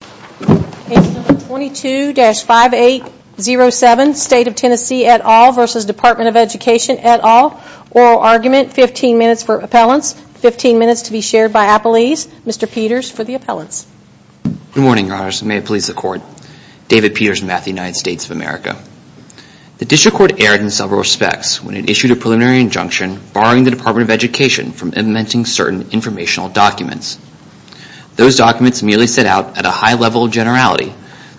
Page 22-5807 State of Tennessee et al. v. Department of Education et al. Oral Argument 15 minutes for appellants, 15 minutes to be shared by appellees. Mr. Peters for the appellants. Good morning, Your Honors. May it please the Court. David Peters, Math United States of America. The District Court erred in several respects when it issued a preliminary injunction barring the Department of Education from implementing certain informational documents. Those documents merely set out, at a high level of generality,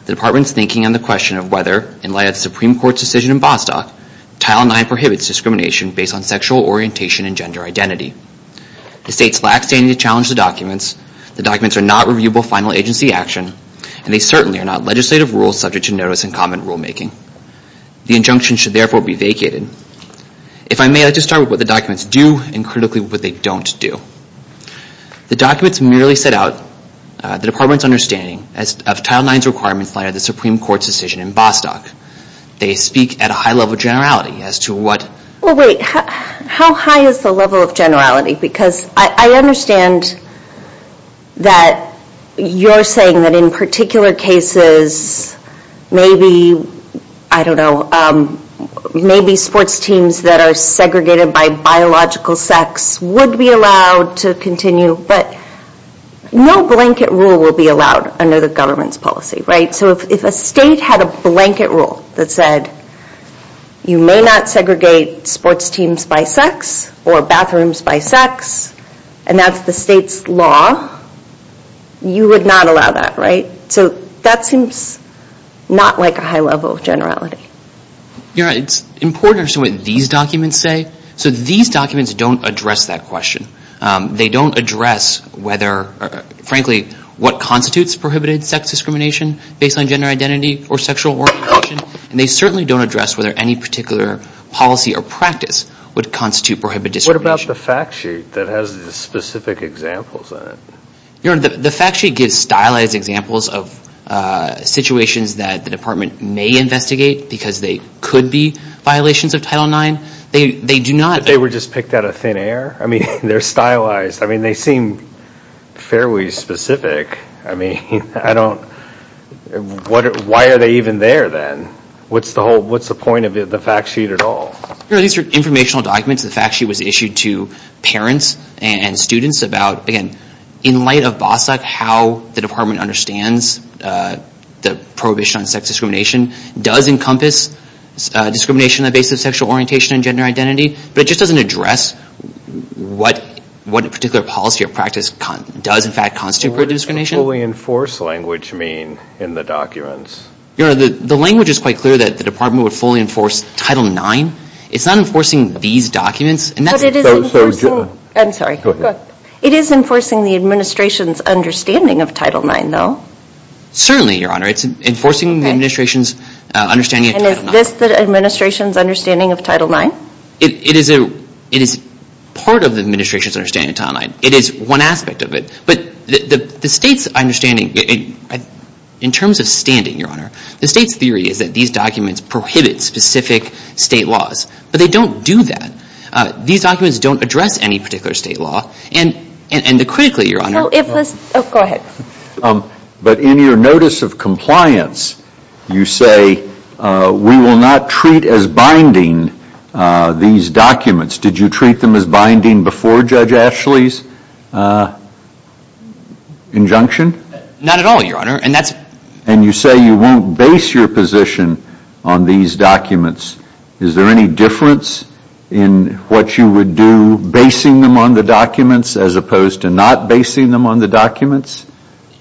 the Department's thinking on the question of whether, in light of the Supreme Court's decision in Bostock, Title IX prohibits discrimination based on sexual orientation and gender identity. The State lacks standing to challenge the documents, the documents are not reviewable final agency action, and they certainly are not legislative rules subject to notice and comment rulemaking. The injunction should therefore be vacated. If I may, I'd like to start with what the documents do and critically what they don't do. The documents merely set out the Department's understanding of Title IX's requirements in light of the Supreme Court's decision in Bostock. They speak at a high level of generality as to what... How high is the level of generality? Because I understand that you're saying that in particular cases, maybe, I don't know, maybe sports teams that are segregated by biological sex would be allowed to continue, but no blanket rule will be allowed under the government's policy, right? So if a state had a blanket rule that said, you may not segregate sports teams by sex or bathrooms by sex, and that's the state's law, you would not allow that, right? So that seems not like a high level of generality. You know, it's important to understand what these documents say. So these documents don't address that question. They don't address whether, frankly, what constitutes prohibited sex discrimination based on gender identity or sexual orientation, and they certainly don't address whether any particular policy or practice would constitute prohibited discrimination. What about the fact sheet that has the specific examples on it? You know, the fact sheet gives stylized examples of situations that the department may investigate because they could be violations of Title IX. They do not... But they were just picked out of thin air? I mean, they're stylized. I mean, they seem fairly specific. I mean, I don't... Why are they even there, then? What's the point of the fact sheet at all? These are informational documents. The fact sheet was issued to parents and students about, again, in light of BOSAC, how the department understands the prohibition on sex discrimination does encompass discrimination on the basis of sexual orientation and gender identity, but it just doesn't address what particular policy or practice does, in fact, constitute prohibited discrimination. What does the fully enforced language mean in the documents? You know, the language is quite clear that the department would fully enforce Title IX. It's not enforcing these documents. But it is enforcing... I'm sorry. Go ahead. It is enforcing the administration's understanding of Title IX, though. Certainly, Your Honor. It's enforcing the administration's understanding of Title IX. And is this the administration's understanding of Title IX? It is part of the administration's understanding of Title IX. It is one aspect of it. But the state's understanding... In terms of standing, Your Honor, the state's theory is that these documents prohibit specific state laws, but they don't do that. These documents don't address any particular state law, and critically, Your Honor... But in your notice of compliance, you say we will not treat as binding these documents. Did you treat them as binding before Judge Ashley's injunction? Not at all, Your Honor. And you say you won't base your position on these documents. Is there any difference in what you would do basing them on the documents as opposed to not basing them on the documents?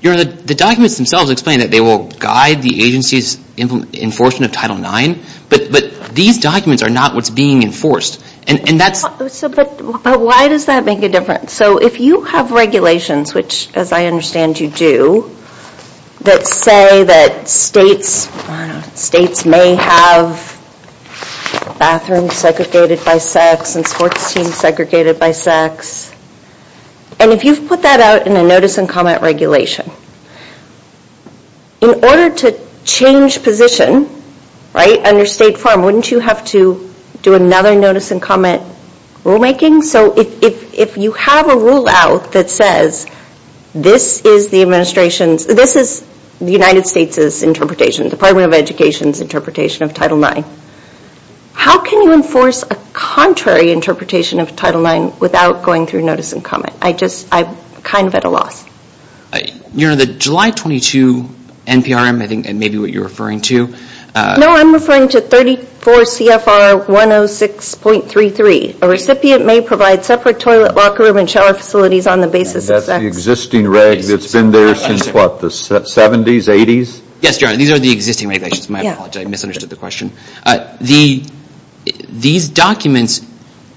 Your Honor, the documents themselves explain that they will guide the agency's enforcement of Title IX, but these documents are not what's being enforced. And that's... But why does that make a difference? So if you have regulations, which as I understand you do, that say that states... I don't know... Bathrooms segregated by sex and sports teams segregated by sex... And if you've put that out in a notice and comment regulation, in order to change position, right, on your state farm, wouldn't you have to do another notice and comment rulemaking? So if you have a rule out that says this is the administration's... This is the United States' interpretation, Department of Education's interpretation of Title IX, how can you enforce a contrary interpretation of Title IX without going through notice and comment? I just... I'm kind of at a loss. Your Honor, the July 22 NPRM, I think maybe what you're referring to... No, I'm referring to 34 CFR 106.33. A recipient may provide separate toilet, locker room, and shower facilities on the basis of sex. And that's the existing reg that's been there since what, the 70s, 80s? Yes, Your Honor, these are the existing regulations. My apologies, I misunderstood the question. These documents,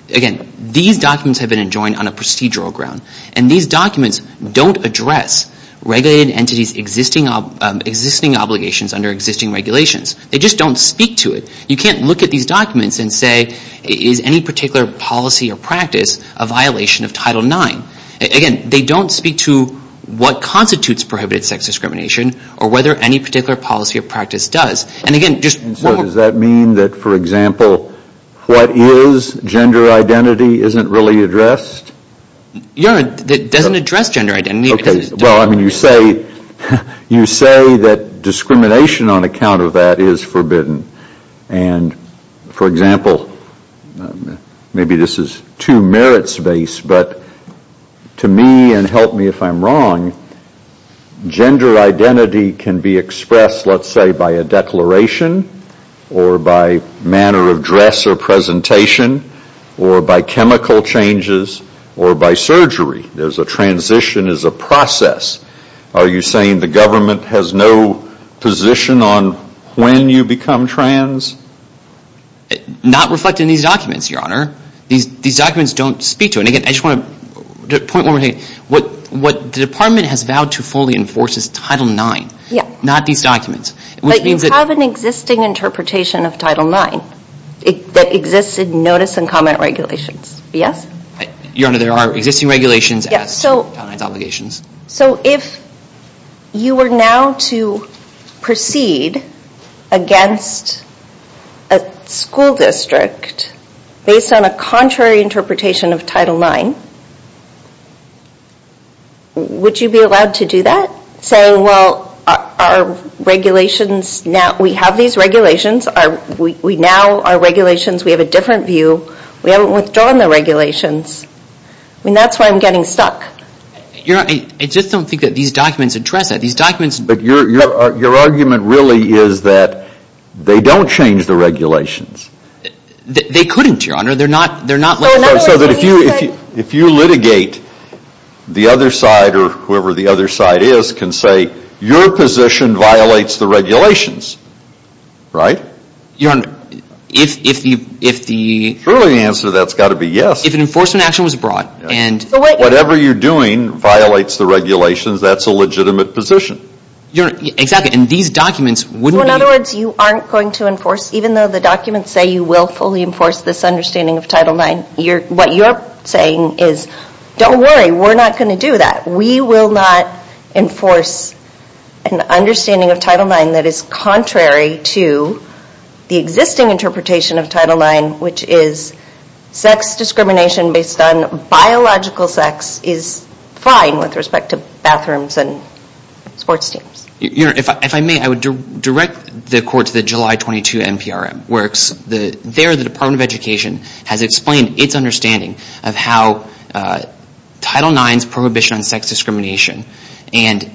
again, these documents have been enjoined on a procedural ground. And these documents don't address regulated entities' existing obligations under existing regulations. They just don't speak to it. You can't look at these documents and say, is any particular policy or practice a violation of Title IX? Again, they don't speak to what constitutes prohibited sex discrimination or whether any particular policy or practice does. And so does that mean that, for example, what is gender identity isn't really addressed? Your Honor, it doesn't address gender identity. You say that discrimination on account of that is forbidden. And, for example, maybe this is too merits-based, but to me, and help me if I'm wrong, gender identity can be expressed, let's say, by a declaration or by manner of dress or presentation or by chemical changes or by surgery. There's a transition, there's a process. Are you saying the government has no position on when you become trans? Not reflected in these documents, Your Honor. These documents don't speak to it. And again, I just want to point one more thing. What the Department has vowed to fully enforce is Title IX, not these documents. But you have an existing interpretation of Title IX that exists in notice and comment regulations. Yes? Your Honor, there are existing regulations as to Title IX's obligations. So if you were now to proceed against a school district based on a contrary interpretation of Title IX, would you be allowed to do that? Saying, well, our regulations now, we have these regulations. We now, our regulations, we have a different view. We haven't withdrawn the regulations. I mean, that's why I'm getting stuck. Your Honor, I just don't think that these documents address that. These documents... But your argument really is that they're not... So that if you litigate the other side or whoever the other side is can say, your position violates the regulations, right? Your Honor, if the... Surely the answer to that's got to be yes. If an enforcement action was brought and... Whatever you're doing violates the regulations, that's a legitimate position. Your Honor, exactly. And these documents wouldn't be... So in other words, you aren't going to enforce, even though the documents say you will fully enforce this understanding of Title IX, what you're saying is, don't worry, we're not going to do that. We will not enforce an understanding of Title IX that is contrary to the existing interpretation of Title IX, which is sex discrimination based on biological sex is fine with respect to bathrooms and sports teams. Your Honor, if I may, I would direct the Court to the Department of Education has explained its understanding of how Title IX's prohibition on sex discrimination and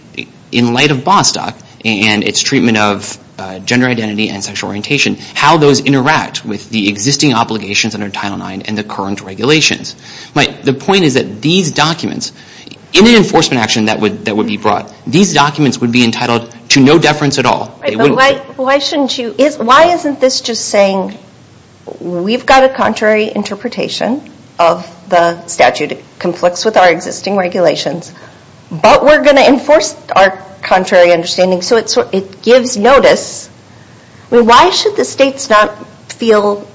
in light of Bostock and its treatment of gender identity and sexual orientation, how those interact with the existing obligations under Title IX and the current regulations. The point is that these documents, in an enforcement action that would be brought, these documents would be entitled to no deference at all. They wouldn't be. But why isn't this just saying we've got a contrary interpretation of the statute that conflicts with our existing regulations, but we're going to enforce our contrary understanding. So it gives notice. Why should the states not feel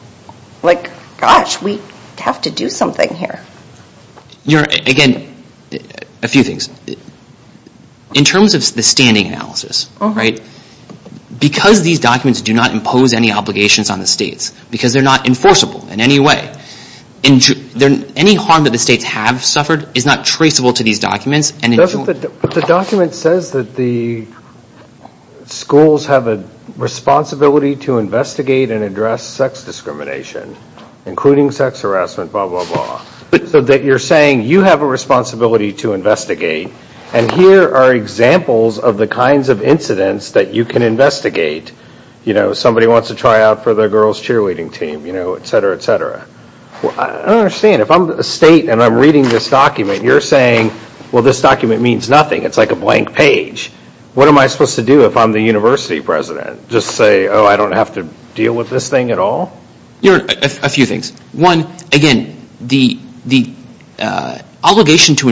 like, gosh, we have to do something here. Your Honor, again, a few things. In terms of the standing analysis, because these documents do not impose any obligations on the states, because they're not enforceable in any way, any harm that the states have suffered is not traceable to these documents. But the document says that the schools have a responsibility to investigate and address sex discrimination, including sex harassment, blah, blah, blah. So that you're saying you have a responsibility to investigate and here are examples of the kinds of incidents that you can investigate. You know, somebody wants to try out for the girls' cheerleading team, you know, et cetera, et cetera. I don't understand. If I'm a state and I'm reading this document, you're saying, well, this document means nothing. It's like a blank page. What am I supposed to do if I'm the university president? Just say, oh, I don't have to deal with this thing at all? Your Honor, a few things. One, again, the obligation to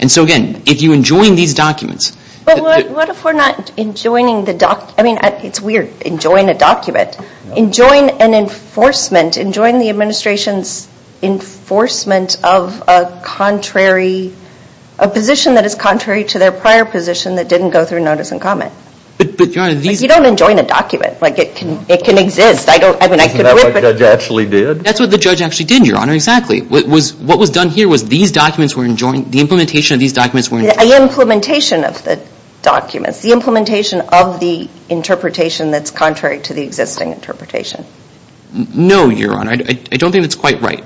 and so again, if you enjoin these documents. But what if we're not enjoining the document? I mean, it's weird, enjoin a document. Enjoin an enforcement. Enjoin the administration's enforcement of a contrary, a position that is contrary to their prior position that didn't go through notice and comment. You don't enjoin a document. It can exist. Isn't that what the judge actually did? That's what the judge actually did, Your Honor, exactly. What was done here was these documents were enjoined, the implementation of these documents were enjoined. The implementation of the documents. The implementation of the interpretation that's contrary to the existing interpretation. No, Your Honor. I don't think that's quite right.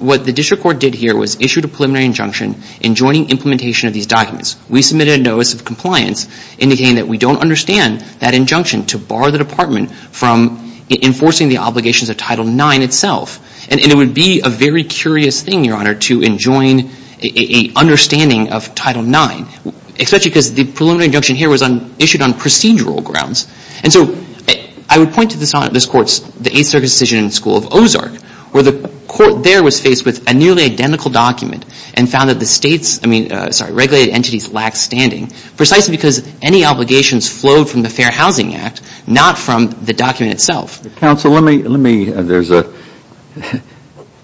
What the district court did here was issued a preliminary injunction enjoining implementation of these documents. We submitted a notice of compliance indicating that we don't understand that injunction to bar the department from enforcing the obligations of Title IX itself. And it would be a very curious thing, Your Honor, to enjoin a understanding of Title IX, especially because the preliminary injunction here was issued on procedural grounds. And so I would point to this Court's, the Eighth Circuit's decision in the School of Ozark, where the Court there was faced with a nearly identical document and found that the states I mean, sorry, regulated entities lacked standing precisely because any obligations flowed from the Fair Housing Act, not from the document itself. Counsel, let me, there's a,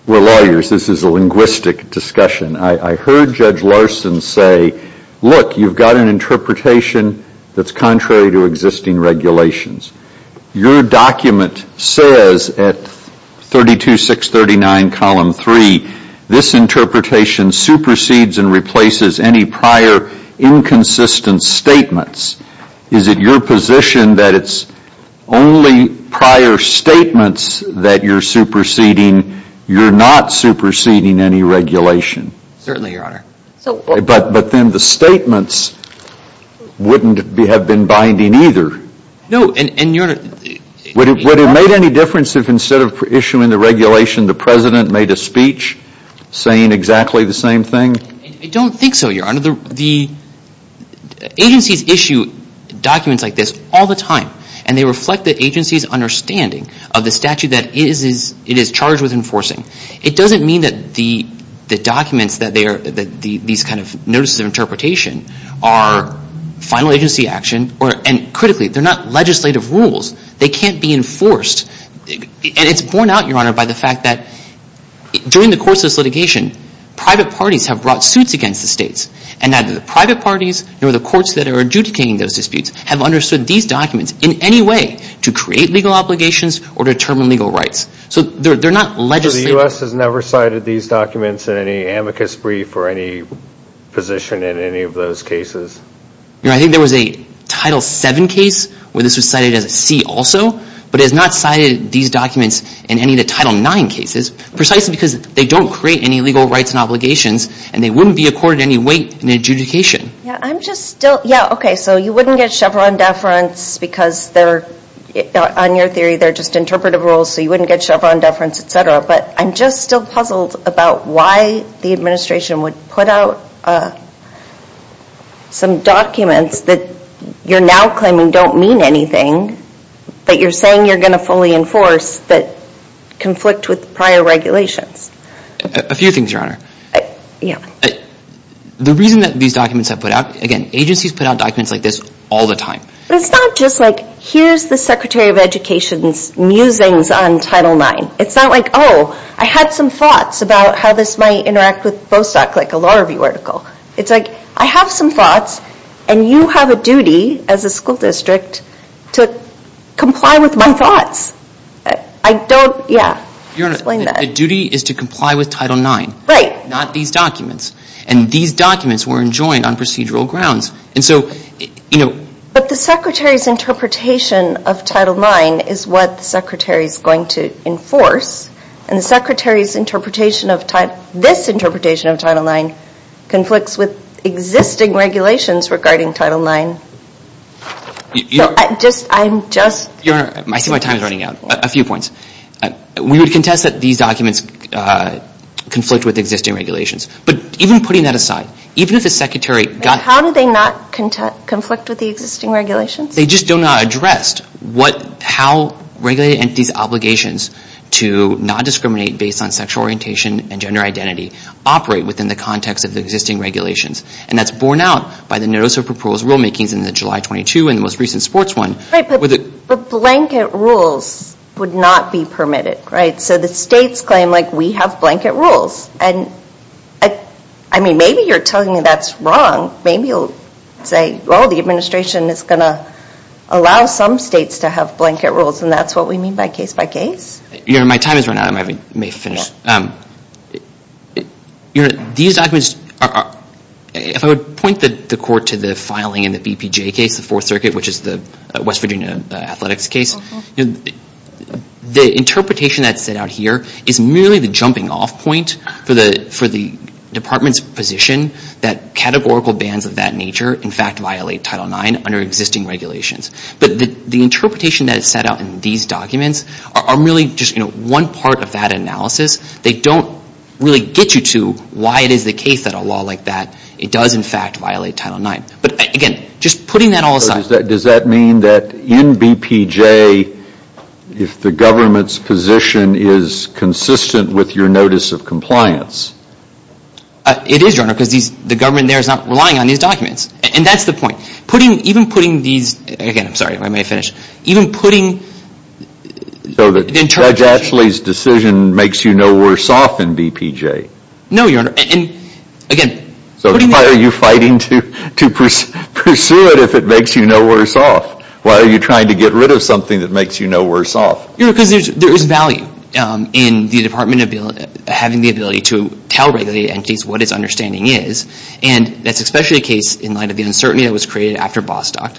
we're lawyers. This is a linguistic discussion. I heard Judge Larson say look, you've got an interpretation that's contrary to existing regulations. Your document says at 32-639, column 3, this interpretation supersedes and replaces any prior inconsistent statements. Is it your position that it's only prior statements that you're superseding you're not superseding any regulation? Certainly, Your Honor. But then the statements wouldn't have been binding either. No, and Your Honor... Would it have made any difference if instead of issuing the regulation, the President made a speech saying exactly the same thing? I don't think so, Your Honor. The agencies issue documents like this all the time. And they reflect the agency's understanding of the statute that it is charged with enforcing. It doesn't mean that the documents that they are, these kind of notices of interpretation are final agency action or, and critically, they're not legislative rules. They can't be enforced. And it's borne out, Your Honor, by the fact that during the course of this litigation, private parties have brought suits against the states. And neither the private parties nor the courts that are adjudicating those disputes have understood these documents in any way to create legal obligations or determine legal rights. So they're not legislative. So the U.S. has never cited these documents in any amicus brief or any position in any of those cases? Your Honor, I think there was a Title VII case where this was cited as a C also. But it has not cited these documents in any of the Title IX cases precisely because they don't create any legal rights and obligations. And they wouldn't be accorded any weight in adjudication. Yeah, I'm just still, yeah, okay, so you wouldn't get Chevron deference because they're, on your theory, they're just interpretive rules so you wouldn't get Chevron deference, etc. But I'm just still puzzled about why the administration would put out some documents that you're now claiming don't mean anything but you're saying you're going to fully enforce that conflict with prior regulations. A few things, Your Honor. The reason that these documents are put out, again agencies put out documents like this all the time. It's not just like here's the Secretary of Education's musings on Title IX. It's not like oh, I had some thoughts about how this might interact with Bostock like a law review article. It's like I have some thoughts and you have a duty as a school district to comply with my thoughts. I don't, yeah, explain that. Your Honor, a duty is to comply with Title IX. Right. Not these documents. And these documents were enjoined on procedural grounds. And so, you know But the Secretary's interpretation of Title IX is what the Secretary is going to enforce. And the Secretary's interpretation of this interpretation of Title IX conflicts with existing regulations regarding Title IX. I'm just, Your Honor, I see my time is running out. A few points. We would contest that these documents conflict with existing regulations. But even putting that aside, even if the Secretary How do they not conflict with the existing regulations? They just do not address how regulated entities' obligations to not discriminate based on sexual orientation and gender identity operate within the context of the existing regulations. And that's borne out by the notice of proposed rulemakings in the July 22 and the most recent sports one. Right, but the blanket rules would not be permitted. Right? So the states claim, like, we have blanket rules. And I mean, maybe you're telling me that's wrong. Maybe you'll say, well, the administration is going to allow some states to have blanket rules. And that's what we mean by case by case? Your Honor, my time is running out. I may finish. Your Honor, these documents are if I would point the Court to the filing in the BPJ case, the Fourth Circuit which is the West Virginia athletics case. The interpretation that's set out here is merely the jumping off point for the Department's position that categorical bans of that nature in fact violate Title IX under existing regulations. But the interpretation that is set out in these documents are merely just one part of that analysis. They don't really get you to why it is the case that a law like that, it does in fact violate Title IX. But again, just putting that all aside. So does that mean that in BPJ if the government's position is consistent with your notice of compliance? It is, Your Honor, because the government there is not relying on these documents. And that's the point. Putting, even putting these, again, I'm sorry, I may finish. Even putting So that Judge Ashley's decision makes you no worse off in BPJ? No, Your Honor, and again So why are you fighting to pursue it if it makes you no worse off? Why are you trying to get rid of something that makes you no worse off? You know, because there is value in the Department having the ability to tell regulated entities what its understanding is. And that's especially the case in light of the uncertainty that was created after Bostock.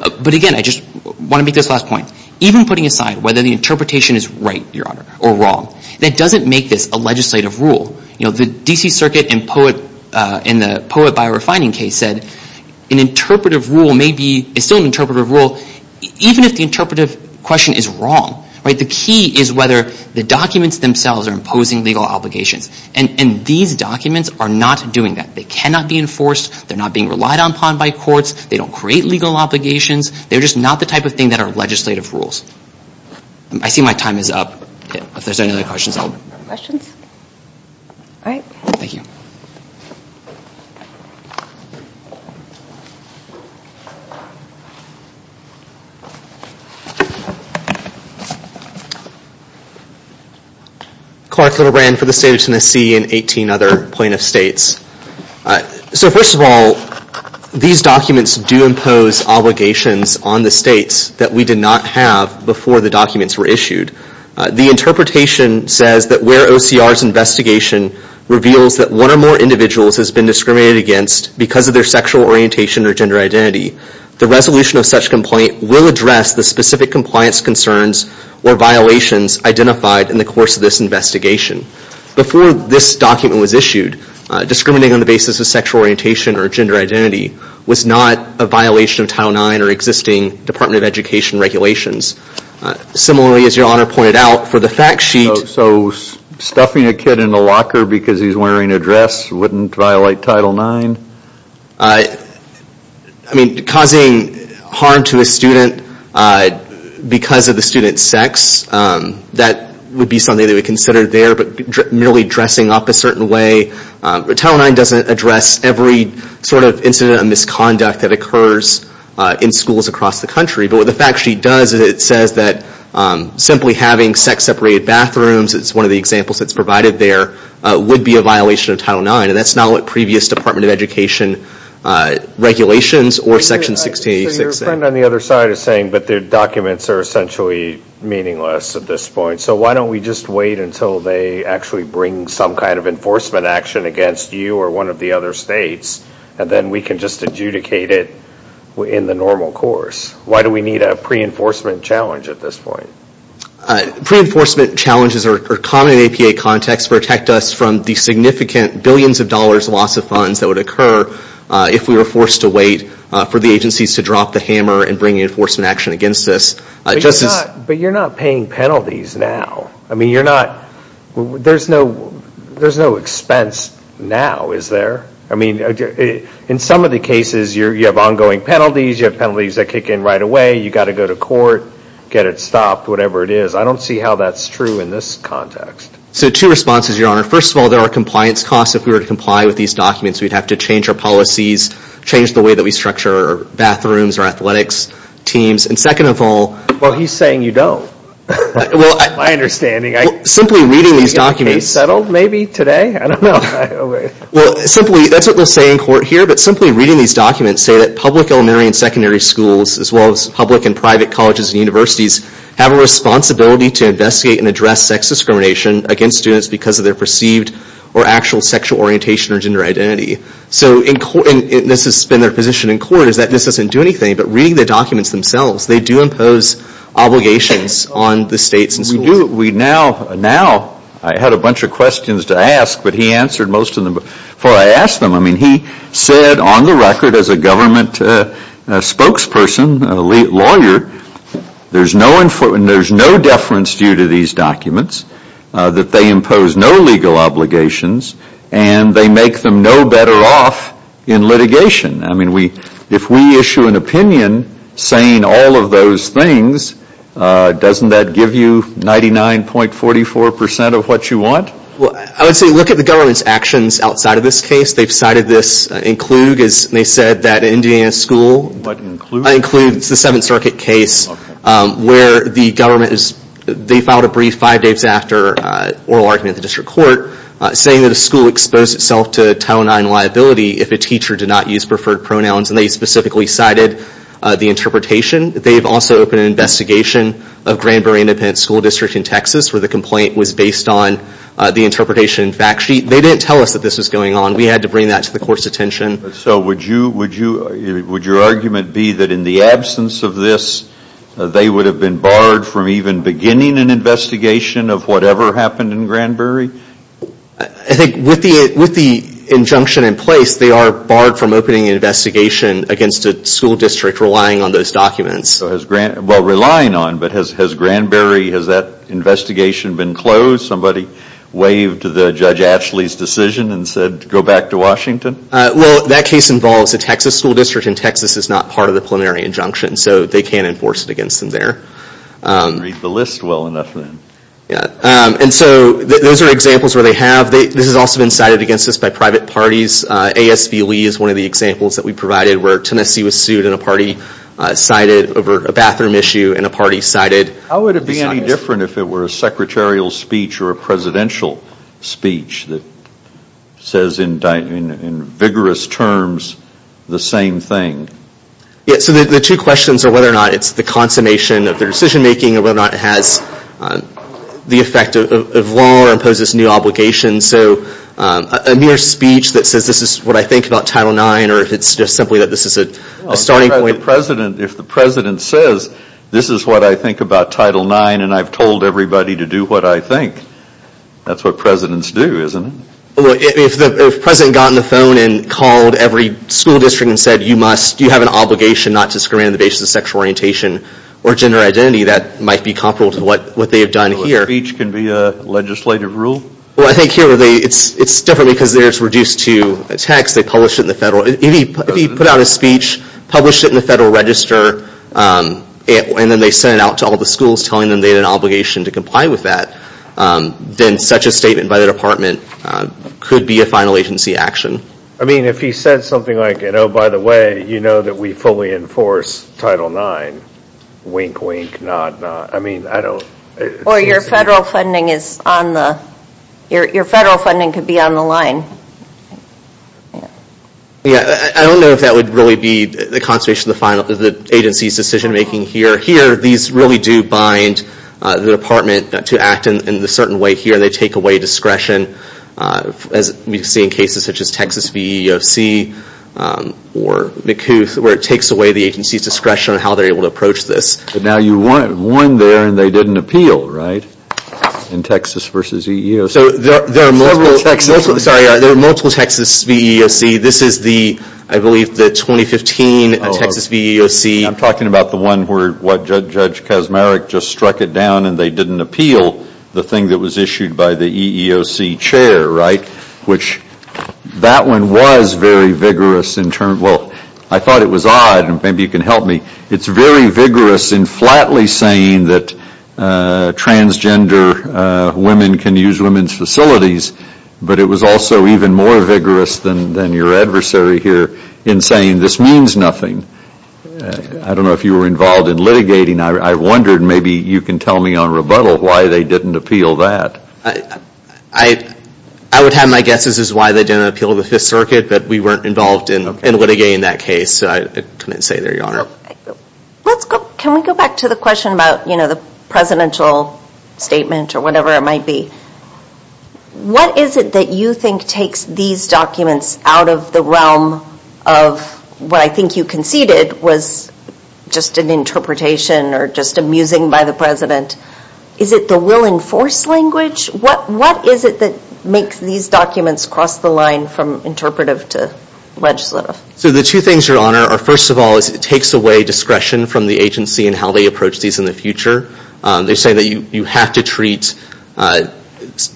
But again, I just want to make this last point. Even putting aside whether the interpretation is right, Your Honor, or wrong, that doesn't make this a legislative rule. You know, the D.C. Circuit in the POET biorefining case said an interpretive rule may be, is still an interpretive rule even if the interpretive question is wrong. The key is whether the documents themselves are imposing legal obligations. And these documents are not doing that. They cannot be enforced. They're not being relied upon by courts. They don't create legal obligations. They're just not the type of thing that are legislative rules. I see my time is up. If there's any other questions or comments, I'll open it up for questions. Thank you. Clark Littlebrand for the State of Tennessee and 18 other plaintiff states. So first of all, these documents do impose obligations on the states that we did not have before the documents were issued. The interpretation says that where OCR's investigation reveals that one or more individuals has been discriminated against because of their sexual orientation or gender identity, the resolution of such complaint will address the specific compliance concerns or violations identified in the course of this investigation. Before this document was issued, discriminating on the basis of sexual orientation or gender identity was not a violation of Title IX or existing Department of Education regulations. Similarly, as your Honor pointed out, for the fact sheet So stuffing a kid in a locker because he's wearing a dress wouldn't violate Title IX? Causing harm to a student because of the student's sex, that would be something that would be considered there, but merely dressing up a certain way. Title IX doesn't address every sort of incident of misconduct that occurs in schools across the country. But what the fact sheet does is it says that simply having sex-separated bathrooms, it's one of the examples that's provided there, would be a violation of Title IX. And that's not what previous Department of Education regulations or Section 1686 said. So your friend on the other side is saying that their documents are essentially meaningless at this point. So why don't we just wait until they actually bring some kind of enforcement action against you or one of the other states, and then we can just adjudicate it in the normal course? Why do we need a pre-enforcement challenge at this point? Pre-enforcement challenges are common in APA context, protect us from the significant billions of dollars loss of funds that would occur if we were forced to wait for the agencies to drop the hammer and bring enforcement action against us. But you're not paying penalties now. I mean, you're not there's no expense now, is there? I mean, in some of the cases, you have ongoing penalties, you have penalties that kick in right away, you've got to go to court, get it stopped, whatever it is. I don't see how that's true in this context. So two responses, Your Honor. First of all, there are compliance costs if we were to comply with these documents. We'd have to change our policies, change the way that we structure our bathrooms, our athletics teams, and second of all... Well, he's saying you don't. My understanding. Simply reading these documents... Are we getting the case settled maybe today? I don't know. Well, simply, that's what they'll say in court here, but simply reading these documents say that public elementary and secondary schools, as well as public and private colleges and universities, have a responsibility to investigate and address sex discrimination against students because of their perceived or actual sexual orientation or gender identity. So this has been their position in court, is that this doesn't do anything, but reading the documents themselves, they do impose obligations on the states and schools. Now, I had a bunch of questions to ask, but he answered most of them before I asked them. I mean, he said on the record as a government spokesperson, a lawyer, there's no deference due to these documents, that they impose no legal obligations, and they make them no better off in litigation. I mean, if we issue an opinion saying all of those things, doesn't that give you 99.44% of what you want? Well, I would say look at the government's actions outside of this case. They've cited this in Kluge, as they said, that an Indiana school in Kluge, it's the Seventh Circuit case, where the government, they filed a brief five days after oral argument in the district court, saying that a school exposed itself to Title IX liability if a teacher did not use preferred pronouns, and they specifically cited the interpretation. They've also opened an investigation of Granbury Independent School District in Texas, where the complaint was based on the interpretation fact sheet. They didn't tell us that this was going on. We had to bring that to the court's attention. So, would your argument be that in the absence of this, they would have been barred from even beginning an investigation of whatever happened in Granbury? I think with the injunction in place, they are barred from opening an investigation against a school district relying on those documents. Well, relying on, but has Granbury, has that investigation been closed? Somebody waved to Judge Ashley's decision and said, go back to Washington? Well, that case involves a Texas school district, and Texas is not part of the preliminary injunction, so they can't enforce it against them there. Read the list well enough then. And so, those are examples where they have. This has also been cited against us by private parties. ASV Lee is one of the examples that we provided, where Tennessee was sued in a party cited over a bathroom issue in a party cited. How would it be any different if it were a secretarial speech or a presidential speech that says in vigorous terms the same thing? Yeah, so the two questions are whether or not it's the consummation of their decision making or whether or not it has the effect of law or imposes new obligations. So, a mere speech that says this is what I think about Title IX, or if it's just simply that this is a starting point. Well, if the president says this is what I think about Title IX, and I've told everybody to do what I think, that's what presidents do, isn't it? Well, if the president got on the phone and called every school district and said, you must, you have an obligation not to discriminate on the basis of sexual orientation or gender identity, that might be comparable to what they have done here. So a speech can be a legislative rule? Well, I think here, it's different because there it's reduced to text. They publish it in the federal, if he put out a speech, published it in the federal register, and then they sent it out to all the schools telling them they had an obligation to comply with that, then such a statement by the department could be a final agency action. I mean, if he said something like, oh, by the way, you know that we fully enforce Title IX, wink, wink, nod, nod, I mean, I don't. Or your federal funding is on the, your federal funding could be on the line. Yeah, I don't know if that would really be the conservation of the agency's decision making here. Here, these really do bind the department to act in a certain way here. They take away discretion, as we see in cases such as Texas VEOC or McCouth, where it takes away the agency's discretion on how they're able to approach this. But now you won there and they didn't appeal, right? In Texas versus EEOC. So there are multiple Texas VEOC. This is the, I believe, the 2015 Texas VEOC. I'm talking about the one where Judge Kaczmarek just struck it down and they didn't appeal the thing that was issued by the EEOC chair, right? Which, that one was very vigorous in terms, well, I thought it was odd, and maybe you can help me. It's very vigorous in flatly saying that transgender women can use women's facilities, but it was also even more vigorous than your adversary here in saying this means nothing. I don't know if you were involved in litigating. I wondered, maybe you can tell me on rebuttal, why they didn't appeal that. I would have my guesses as to why they didn't appeal the Fifth Circuit, but we weren't involved in litigating that case, so I couldn't say there, Your Honor. Can we go back to the question about, you know, the language or whatever it might be. What is it that you think takes these documents out of the realm of what I think you conceded was just an interpretation or just amusing by the President? Is it the will and force language? What is it that makes these documents cross the line from interpretive to legislative? So the two things, Your Honor, are first of all it takes away discretion from the agency in how they approach these in the future. They say that you have to treat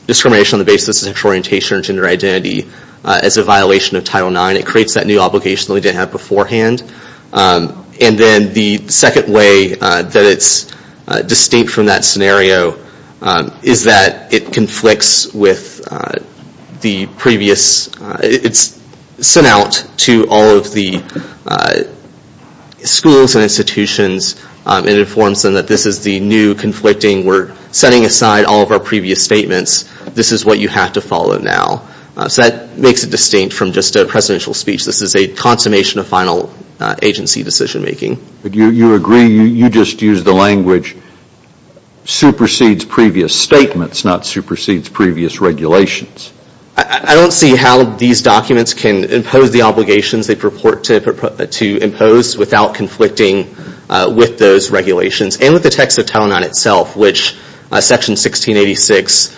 discrimination on the basis of sexual orientation or gender identity as a violation of Title IX. It creates that new obligation that we didn't have beforehand. And then the second way that it's distinct from that scenario is that it conflicts with the previous, it's sent out to all of the schools and institutions and informs them that this is the new conflicting, we're setting aside all of our previous statements, this is what you have to follow now. So that makes it distinct from just a presidential speech. This is a consummation of final agency decision making. But you agree, you just used the language, supersedes previous statements, not supersedes previous regulations. I don't see how these documents can impose the obligations they purport to impose without conflicting with those regulations and with the text of Title IX itself, which section 1686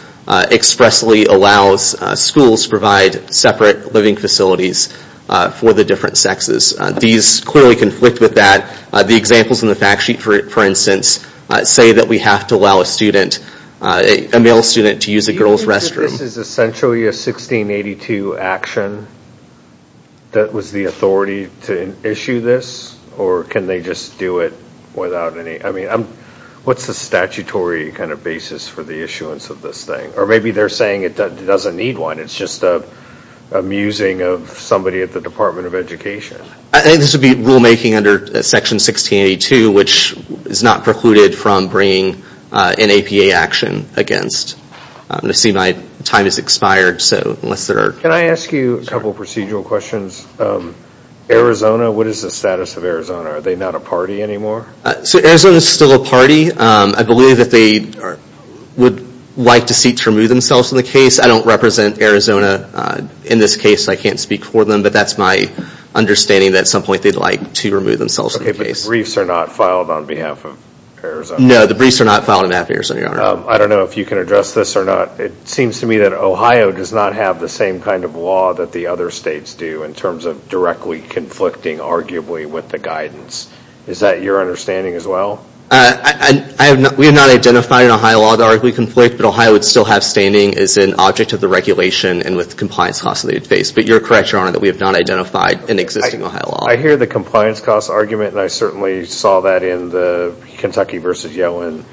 expressly allows schools to provide separate living facilities for the different sexes. These clearly conflict with that. The examples in the fact sheet, for instance, say that we have to allow a student, a male student, to use a girl's restroom. Do you think that this is essentially a 1682 action that was the statute of limitations, or can they just do it without any, I mean, what's the statutory kind of basis for the issuance of this thing? Or maybe they're saying it doesn't need one, it's just a musing of somebody at the Department of Education. I think this would be rulemaking under section 1682, which is not precluded from bringing an APA action against. I'm going to see my time has expired. Can I ask you a couple of procedural questions? Arizona, what is the status of Arizona? Are they not a party anymore? So Arizona is still a party. I believe that they would like to seek to remove themselves from the case. I don't represent Arizona in this case. I can't speak for them, but that's my understanding that at some point they'd like to remove themselves from the case. Okay, but the briefs are not filed on behalf of Arizona? No, the briefs are not filed on behalf of Arizona, Your Honor. I don't know if you can address this or not. It seems to me that Ohio does not have the same kind of law that the other states do in terms of directly conflicting arguably with the guidance. Is that your understanding as well? We have not identified in Ohio law the arguably conflict, but Ohio would still have standing as an object of the regulation and with compliance costs that they would face. But you're correct, Your Honor, that we have not identified an existing Ohio law. I hear the compliance costs argument, and I certainly saw that in the Kentucky v. Yellen.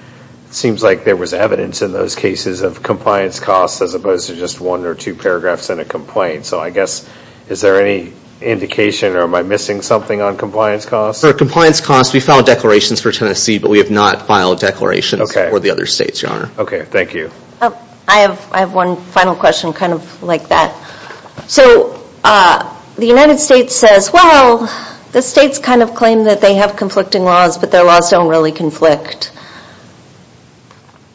It seems like there was evidence in those cases of compliance costs as opposed to just one or two paragraphs in a complaint. So I guess, is there any indication or am I missing something on compliance costs? For compliance costs, we filed declarations for Tennessee, but we have not filed declarations for the other states, Your Honor. Okay, thank you. I have one final question kind of like that. So the United States says, well, the states kind of claim that they have conflicting laws, but their laws don't really conflict.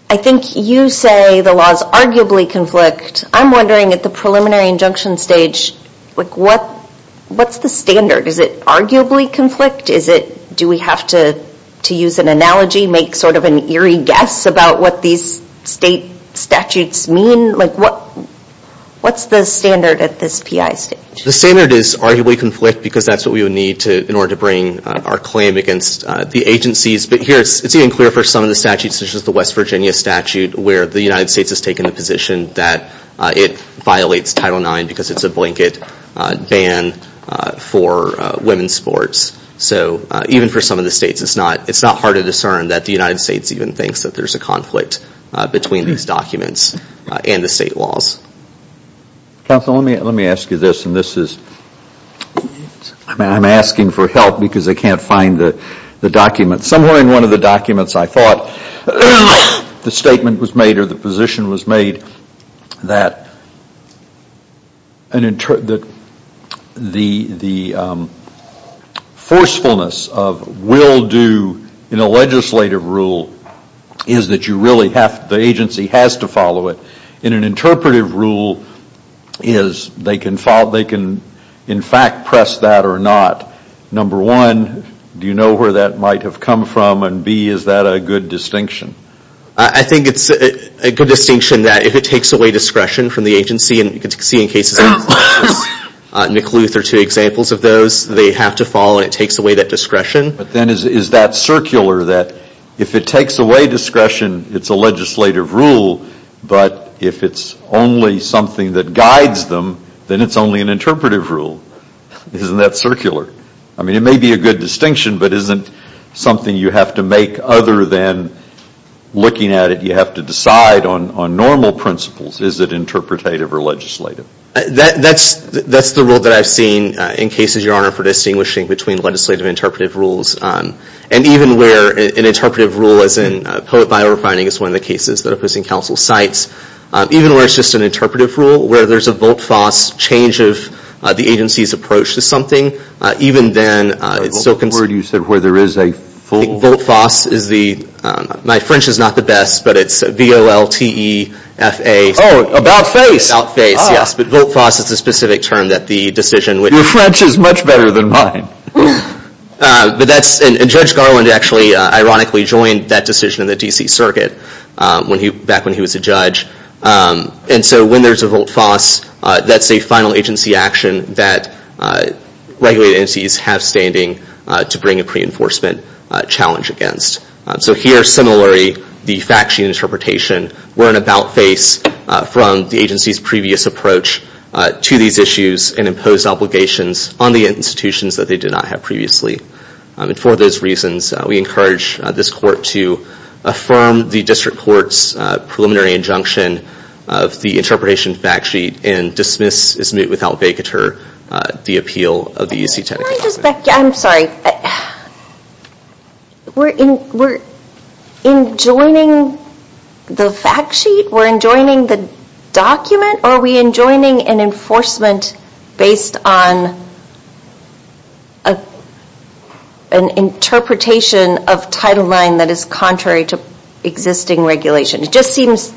I think you say the laws arguably conflict. I'm wondering at the preliminary injunction stage, what's the standard? Is it arguably conflict? Do we have to use an analogy, make sort of an eerie guess about what these state statutes mean? What's the standard at this PI stage? The standard is arguably conflict, because that's what we would need in order to bring our claim against the agencies. But here, it's even clearer for some of the statutes, such as the United States has taken the position that it violates Title IX because it's a blanket ban for women's sports. So even for some of the states, it's not hard to discern that the United States even thinks that there's a conflict between these documents and the state laws. Counselor, let me ask you this, and this is, I'm asking for help because I can't find the document. Somewhere in one of the documents, I thought the statement was made or the position was made that the forcefulness of will do in a legislative rule is that you really have, the agency has to follow it. In an interpretive rule, is they can in fact press that or not. Number one, do you know where that might have come from? And B, is that a good distinction? I think it's a good distinction that if it takes away discretion from the agency, and you can see in cases like Nick Luther, two examples of those, they have to follow and it takes away that discretion. But then is that circular that if it takes away discretion, it's a legislative rule, but if it's only something that guides them, then it's only an interpretive rule. Isn't that circular? I mean, it may be a good distinction, but isn't something you have to make other than looking at it, you have to decide on normal principles. Is it interpretative or legislative? That's the rule that I've seen in cases, Your Honor, for distinguishing between legislative and interpretive rules. And even where an interpretive rule, as in poet biorefining is one of the cases that opposing counsel cites, even where it's just an interpretive rule, where there's a volt-foss change of the agency's approach to something, even then it's still consistent. A word you said where there is a full Volt-foss is the, my French is not the best, but it's V-O-L-T-E-F-A Oh, about face. About face, yes. But volt-foss is a specific term that the decision Your French is much better than mine. But that's, and Judge Garland actually ironically joined that decision in the D.C. Circuit, back when he was a judge. And so when there's a volt-foss, that's a final agency action that regulated entities have standing to bring a pre-enforcement challenge against. So here, similarly, the fact sheet interpretation were an about face from the agency's previous approach to these issues and imposed obligations on the institutions that they did not have previously. And for those reasons we encourage this court to affirm the District Court's preliminary injunction of the interpretation fact sheet and dismiss, is moot without vacatur, the appeal of the U.C. technical document. Can I just back, I'm sorry We're enjoining the fact sheet? We're enjoining the document? Or are we enjoining an enforcement based on an interpretation of Title IX that is contrary to existing regulation? It just seems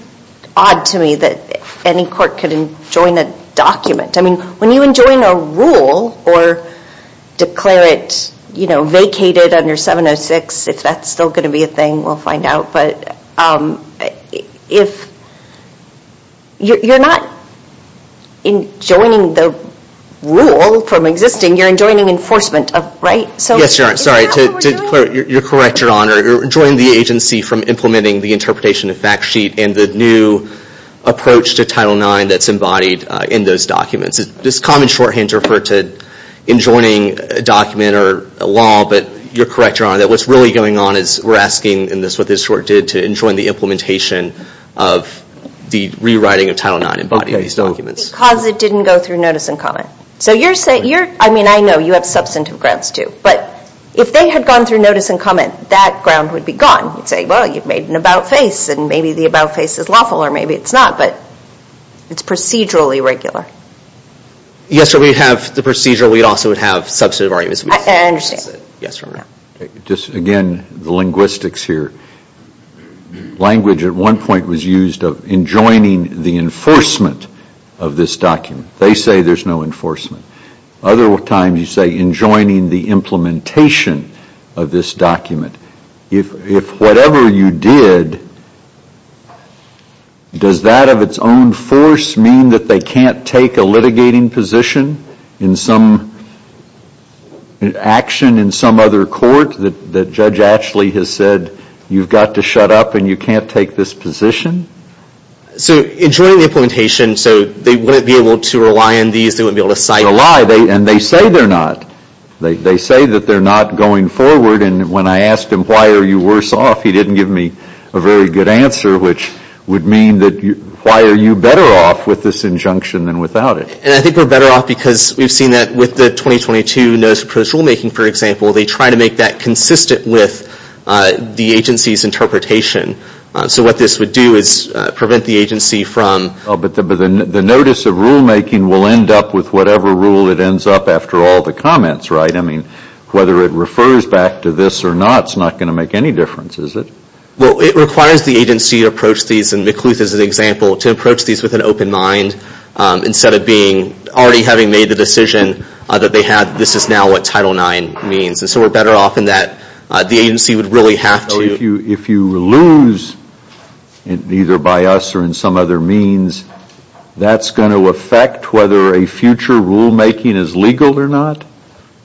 odd to me that any court could enjoin a document. I mean, when you enjoin a rule or declare it, you know, vacated under 706, if that's still going to be a thing, we'll find out, but if, you're not enjoining the rule from existing, you're enjoining enforcement, right? Yes, Your Honor, sorry. You're correct, Your Honor. You're enjoining the agency from implementing the interpretation of fact sheet and the new approach to Title IX that's embodied in those documents. It's a common shorthand to refer to enjoining a document or a law, but you're correct, Your Honor, that what's really going on is we're asking, and that's what this court did, to enjoin the implementation of the rewriting of Title IX embodying these documents. Because it didn't go through notice and comment. So you're saying, I mean, I know you have substantive grounds too, but if they had gone through notice and comment, that ground would be gone. You'd say, well you've made an about-face and maybe the about-face is lawful or maybe it's not, but it's procedurally regular. Yes, so we'd have the procedural, we'd also have substantive arguments. I understand. Again, the linguistics here. Language at one point was used of enjoining the enforcement of this document. They say there's no enforcement. Other times you say enjoining the implementation of this document. If whatever you did, does that of its own force mean that they can't take a litigating position in some action in some other court that Judge Ashley has said you've got to shut up and you can't take this position? So enjoining the implementation, so they wouldn't be able to rely on these? They wouldn't be able to cite them? They say they're not. They say that they're not going forward and when I asked him, why are you worse off, he didn't give me a very good answer, which would mean that why are you better off with this injunction than without it? And I think we're better off because we've seen that with the 2022 notice of proposed rulemaking, for example, they try to make that consistent with the agency's interpretation. So what this would do is prevent the agency from... But the notice of rulemaking will end up with whatever rule that ends up after all the comments, right? I mean, whether it refers back to this or not is not going to make any difference, is it? Well, it requires the agency to approach these, and McCluth is an example, to approach these with an open mind instead of being already having made the decision that this is now what Title IX means. And so we're better off in that the agency would really have to... If you lose, either by us or in some other means, that's going to affect whether a future rulemaking is legal or not.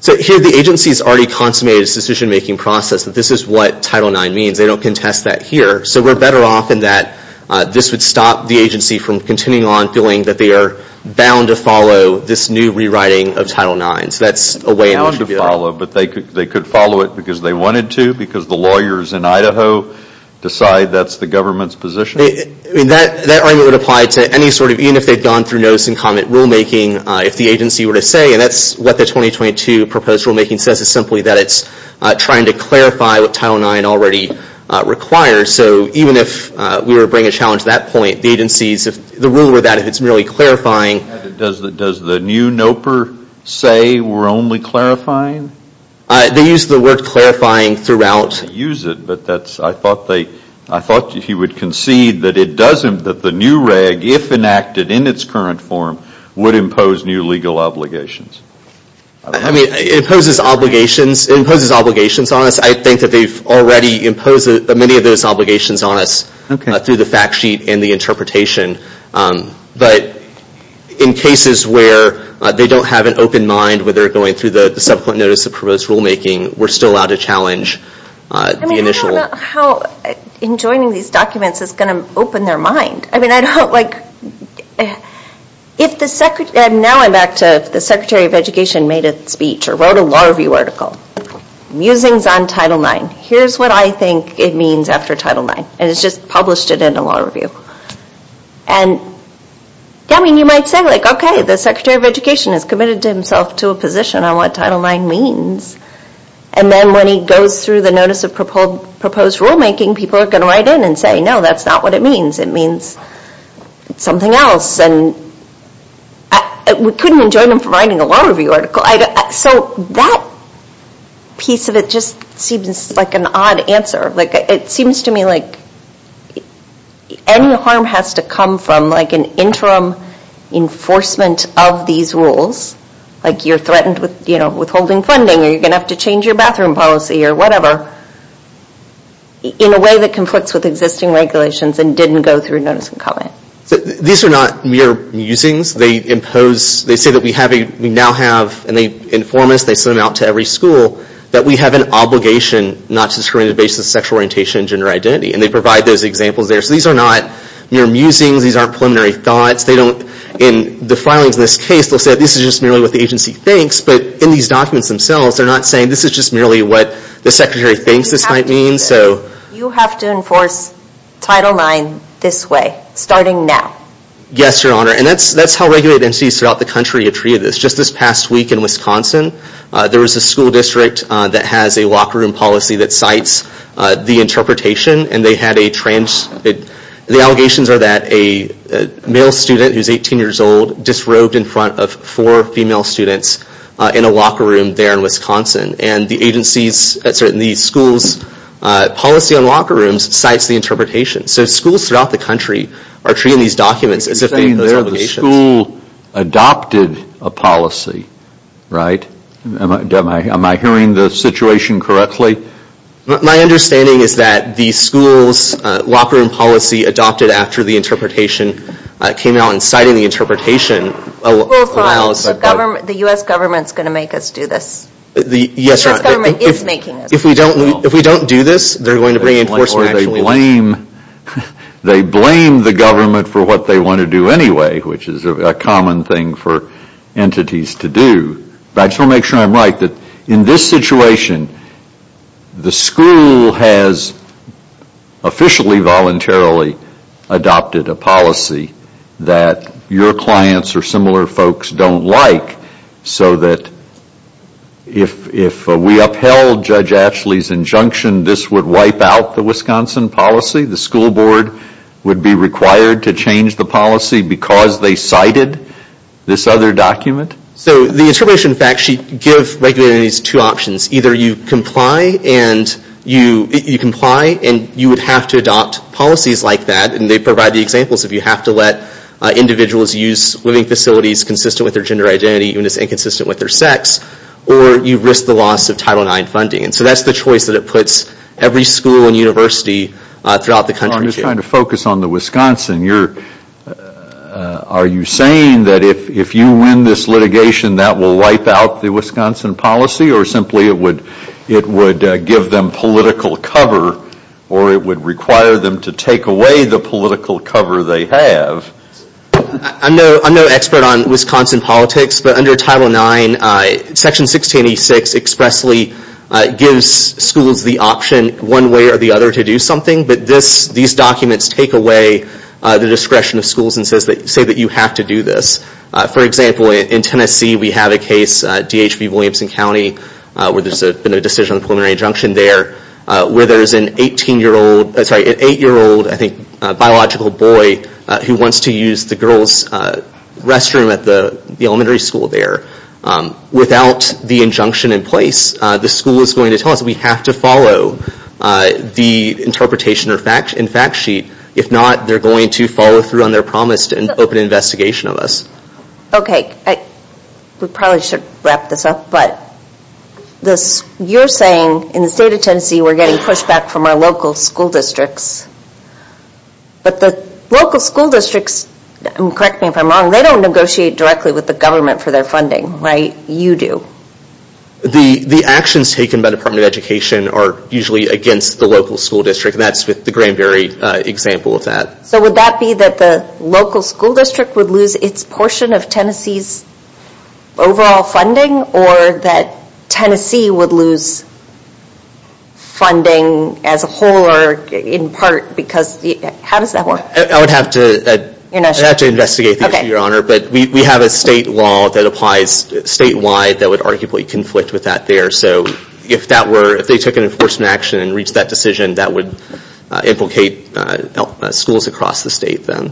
So here the agency's already consummated its decision making process that this is what Title IX means. They don't contest that here. So we're better off in that this would stop the agency from continuing on feeling that they are bound to follow this new rewriting of Title IX. So that's a way in which you get... Bound to follow, but they could follow it because they wanted to, because the lawyers in Idaho decide that's the government's position? I mean, that argument would apply to any sort of... Even if they'd gone through notice and comment rulemaking, if the agency were to say, and that's what the 2022 proposed rulemaking says is simply that it's trying to clarify what Title IX already requires. So even if we were to bring a challenge to that point, the agency's... The rule were that if it's merely clarifying... Does the new NOPR say we're only clarifying? They use the word clarifying throughout. They use it, but that's... I thought they... I thought he would concede that it doesn't, that the new reg, if enacted in its current form, would impose new legal obligations. I mean, it imposes obligations on us. I think that they've already imposed many of those obligations on us through the fact sheet and the interpretation. But in cases where they don't have an open mind when they're going through the subsequent notice of proposed rulemaking, we're still allowed to challenge the initial... I mean, I don't know how enjoining these documents is going to work. If the... Now I'm back to if the Secretary of Education made a speech or wrote a law review article musings on Title IX. Here's what I think it means after Title IX. And it's just published it in a law review. I mean, you might say, okay, the Secretary of Education has committed himself to a position on what Title IX means. And then when he goes through the notice of proposed rulemaking, people are going to write in and say, no, that's not what it means. It means something else. We couldn't enjoin him from writing a law review article. So that piece of it just seems like an odd answer. It seems to me like any harm has to come from an interim enforcement of these rules. Like you're threatened with withholding funding or you're going to have to change your bathroom policy or whatever in a way that conflicts with existing regulations and didn't go through notice and comment. These are not mere musings. They impose... They say that we now have... And they inform us. They send them out to every school that we have an obligation not to discriminate based on sexual orientation and gender identity. And they provide those examples there. So these are not mere musings. These aren't preliminary thoughts. They don't... In the filings of this case they'll say this is just merely what the agency thinks. But in these documents themselves, they're not saying this is just merely what the Secretary thinks this might mean. You have to enforce Title IX this way. Starting now. Yes, Your Honor. And that's how regulated entities throughout the country have treated this. Just this past week in Wisconsin, there was a school district that has a locker room policy that cites the interpretation and they had a trans... The allegations are that a male student who's 18 years old disrobed in front of four female students in a locker room there in Wisconsin. And the agency's... The school's policy on locker rooms cites the interpretation. So schools throughout the country are treating these documents as if they have those obligations. You're saying there the school adopted a policy, right? Am I hearing the situation correctly? My understanding is that the school's locker room policy adopted after the interpretation came out and cited the interpretation and allowed... The U.S. government's going to make us do this. The U.S. government is making us do this. If we don't do this, they're going to bring in enforcement. Or they blame the government for what they want to do anyway, which is a common thing for entities to do. But I just want to make sure I'm right that in this situation, the school has officially voluntarily adopted a policy that your clients or similar folks don't like so that if we upheld Judge Ashley's injunction, this would wipe out the Wisconsin policy? The school board would be required to change the policy because they cited this other document? So the interpretation in fact should give regular entities two options. Either you comply and you comply and you would have to adopt policies like that and they provide the examples of you have to let individuals use living facilities consistent with their gender identity even if it's inconsistent with their sex, or you risk the loss of Title IX funding. So that's the choice that it puts every school and university throughout the country to. So I'm just trying to focus on the Wisconsin. Are you saying that if you win this litigation, that will wipe out the Wisconsin policy or simply it would give them political cover or it would require them to take away the political cover they have? I'm no expert on Wisconsin politics, but under Title IX Section 1686 expressly gives schools the option one way or the other to do something, but these documents take away the discretion of schools and say that you have to do this. For example, in Tennessee we have a case, D.H.V. Williamson County, where there's been a decision on a preliminary injunction there where there's an eight-year-old biological boy who wants to use the girl's restroom at the elementary school there. Without the injunction in place, the school is going to tell us we have to follow the interpretation and fact sheet. If not, they're going to follow through on their promise to open an investigation of us. We probably should wrap this up, but you're saying in the state of Tennessee we're getting pushback from our local school districts, but the local school districts and correct me if I'm wrong, they don't negotiate directly with the government for their funding, right? You do. The actions taken by the Department of Education are usually against the local school district and that's with the Granberry example of that. So would that be that the local school district would lose its portion of Tennessee's overall funding or that Tennessee would lose funding as a whole or in part because how does that work? I would have to investigate the issue, Your Honor. We have a state law that applies statewide that would arguably conflict with that there. So if they took an enforcement action and reached that decision, that would implicate schools across the state then.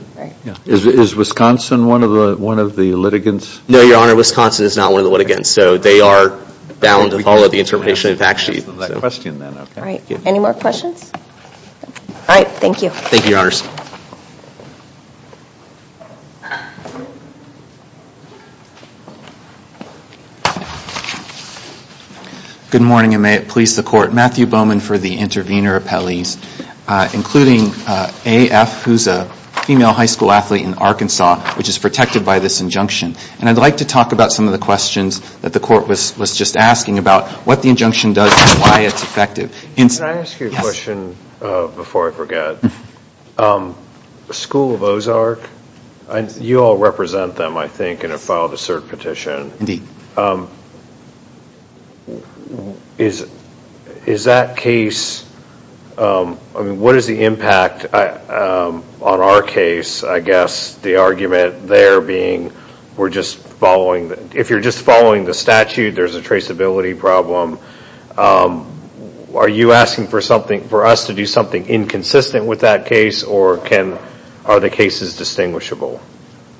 Is Wisconsin one of the litigants? No, Your Honor. Wisconsin is not one of the litigants. So they are bound to follow the interpretation of the fact sheet. Any more questions? All right. Thank you. Thank you, Your Honors. Good morning and may it please the Court. Matthew Bowman for the Intervenor Appellees. Including A.F. who's a female high school athlete in Arkansas which is protected by this injunction. And I'd like to talk about some of the questions that the Court was just asking about what the injunction does and why it's effective. Can I ask you a question before I forget? The School of Ozark, you all represent them I think in a filed assert petition. Is that case what is the impact on our case? I guess the argument there being if you're just following the statute, there's a traceability problem. Are you asking for us to do something inconsistent with that case or are the cases distinguishable?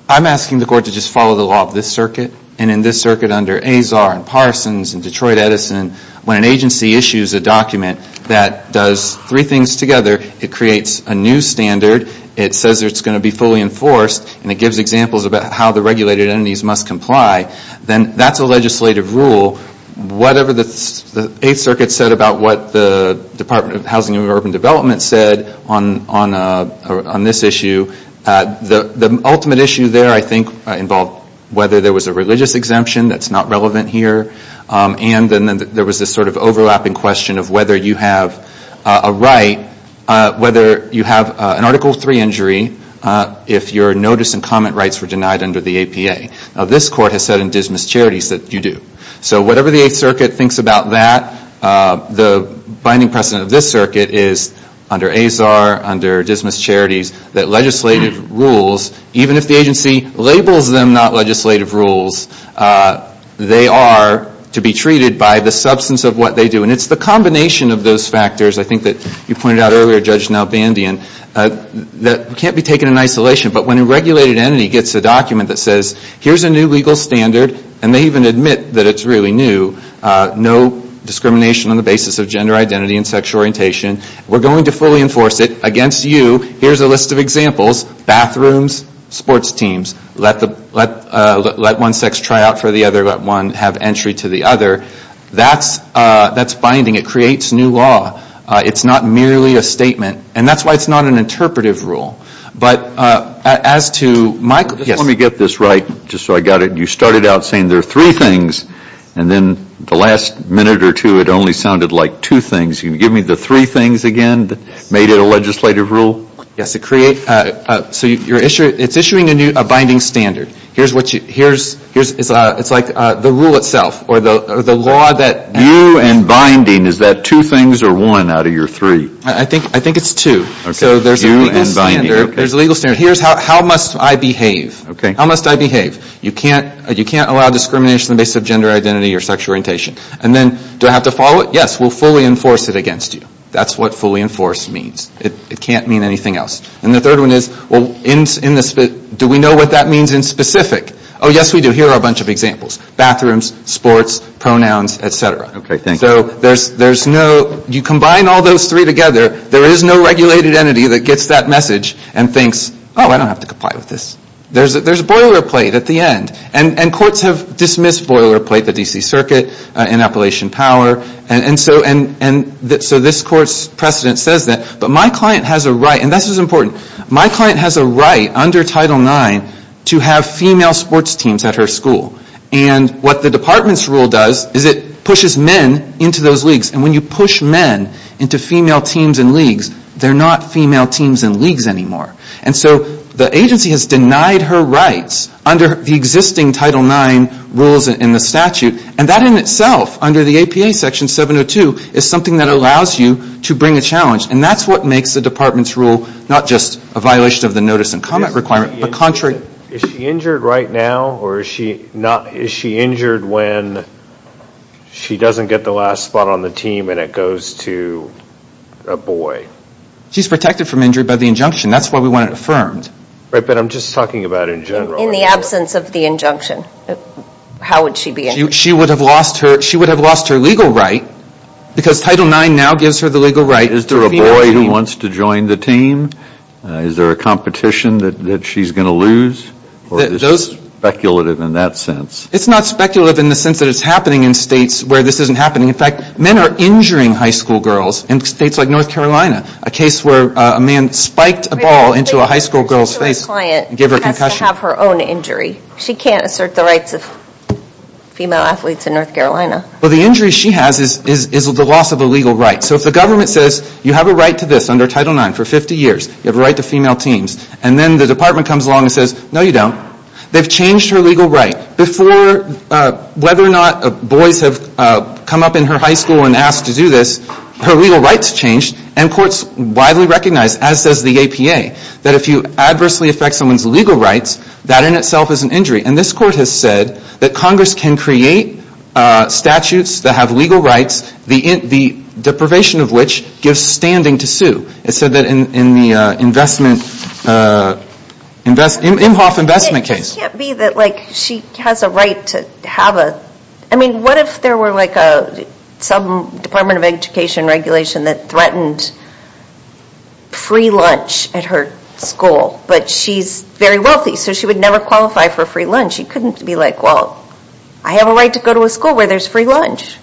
I'm asking the Court to just follow the law of this circuit. And in this circuit under Azar and Parsons and Detroit Edison, when an agency issues a document that does three things together, it creates a new standard, it says it's going to be fully enforced, and it gives examples about how the regulated entities must comply, then that's a legislative rule. Whatever the Eighth Circuit said about what the Department of Housing and Urban Development said on this issue, the ultimate issue there I think involved whether there was a religious exemption that's not relevant here. And then there was this sort of overlapping question of whether you have a right, whether you have an Article 3 injury if your notice and comment rights were denied under the APA. Now this Court has said in Dismas Charities that you do. So whatever the Eighth Circuit thinks about that, the binding precedent of this circuit is under Azar, under Dismas Charities, that legislative rules, even if the agency labels them not legislative rules, they are to be treated by the substance of what they do. And it's the combination of those factors, I think that you pointed out earlier, Judge Nalbandian, that can't be taken in isolation. But when a regulated entity gets a document that says, here's a new legal standard, and they even admit that it's really new, no discrimination on the basis of gender identity and sexual orientation, we're going to fully enforce it against you, here's a list of examples, bathrooms, sports teams, let one sex try out for the other, let one have entry to the other, that's binding. It creates new law. It's not merely a statement. And that's why it's not an interpretive rule. But as to my... Let me get this right, just so I got it. You started out saying there are three things, and then the last minute or two it only sounded like two things. Can you give me the three things again that made it a legislative rule? Yes, so it's issuing a binding standard. It's like the rule itself, or the law that... You and binding, is that two things or one out of your three? I think it's two. So there's a legal standard. Here's how must I behave. How must I behave? You can't allow discrimination on the basis of gender identity or sexual orientation. Do I have to follow it? Yes, we'll fully enforce it against you. That's what fully enforced means. It can't mean anything else. And the third one is, do we know what that means in specific? Oh, yes we do. Here are a bunch of examples. Bathrooms, sports, pronouns, etc. You combine all those three together, there is no regulated entity that gets that message and thinks, oh, I don't have to comply with this. There's a boilerplate at the end. And courts have dismissed boilerplate, the D.C. Circuit and Appalachian Power. So this court's precedent says that. But my client has a right, and this is important, my client has a right under Title IX to have female sports teams at her school. And what the department's rule does is it pushes men into those leagues. And when you push men into female teams and leagues, they're not female teams and leagues anymore. And so the agency has denied her rights under the existing Title IX rules in the statute. And that in itself, under the APA Section 702, is something that allows you to bring a challenge. And that's what makes the department's rule not just a violation of the notice and comment requirement, but contrary. Is she injured right now, or is she injured when she doesn't get the last spot on the team and it goes to a boy? She's protected from injury by the injunction. That's why we want it affirmed. But I'm just talking about in general. In the absence of the injunction, how would she be injured? She would have lost her legal right, because Title IX now gives her the legal right to a female team. Is there a boy who wants to join the team? Is there a competition that she's going to lose? Or is it speculative in that sense? It's not speculative in the sense that it's happening in states where this isn't happening. In fact, men are injuring high school girls in states like North Carolina. A case where a man spiked a ball into a high school girl's face and gave her a concussion. She has to have her own injury. She can't assert the rights of female athletes in North Carolina. Well, the injury she has is the loss of a legal right. So if the government says, you have a right to this under Title IX for 50 years. You have a right to female teams. And then the department comes along and says, no you don't. They've changed her legal right. Before, whether or not boys have come up in her high school and asked to do this, her legal rights changed. And courts widely recognize, as does the APA, that if you adversely affect someone's legal rights, that in itself is an injury. And this court has said that Congress can create statutes that have legal rights, the deprivation of which gives standing to sue. It said that in the investment Imhoff investment case. I mean, what if there were some Department of Education regulation that threatened free lunch at her school, but she's very wealthy. So she would never qualify for free lunch. You couldn't be like, well, I have a right to go to a school where there's free lunch.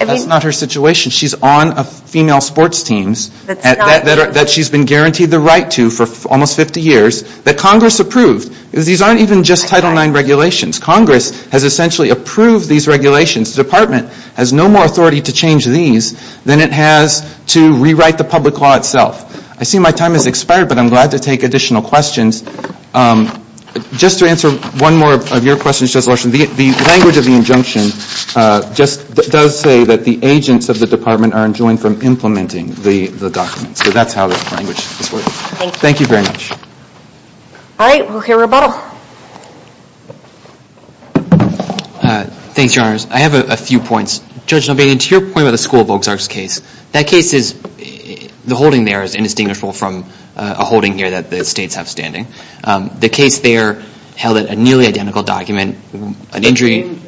That's not her situation. She's on a female sports teams that she's been guaranteed the right to for almost 50 years, that Congress approved. These aren't even just Title IX regulations. Congress has essentially approved these regulations. The department has no more authority to change these than it has to rewrite the public law itself. I see my time has expired, but I'm glad to take additional questions. Just to answer one more of your questions, Judge Larson, the language of the injunction just does say that the agents of the department are enjoined from implementing the documents. So that's how the language works. Thank you very much. All right. We'll hear a rebuttal. Thanks, Your Honors. I have a few points. Judge Nobate, to your point about the School of Oaks Arks case, that case is, the holding there is indistinguishable from a holding here that the Department of Justice is understanding. The case there held a nearly identical document. An injury...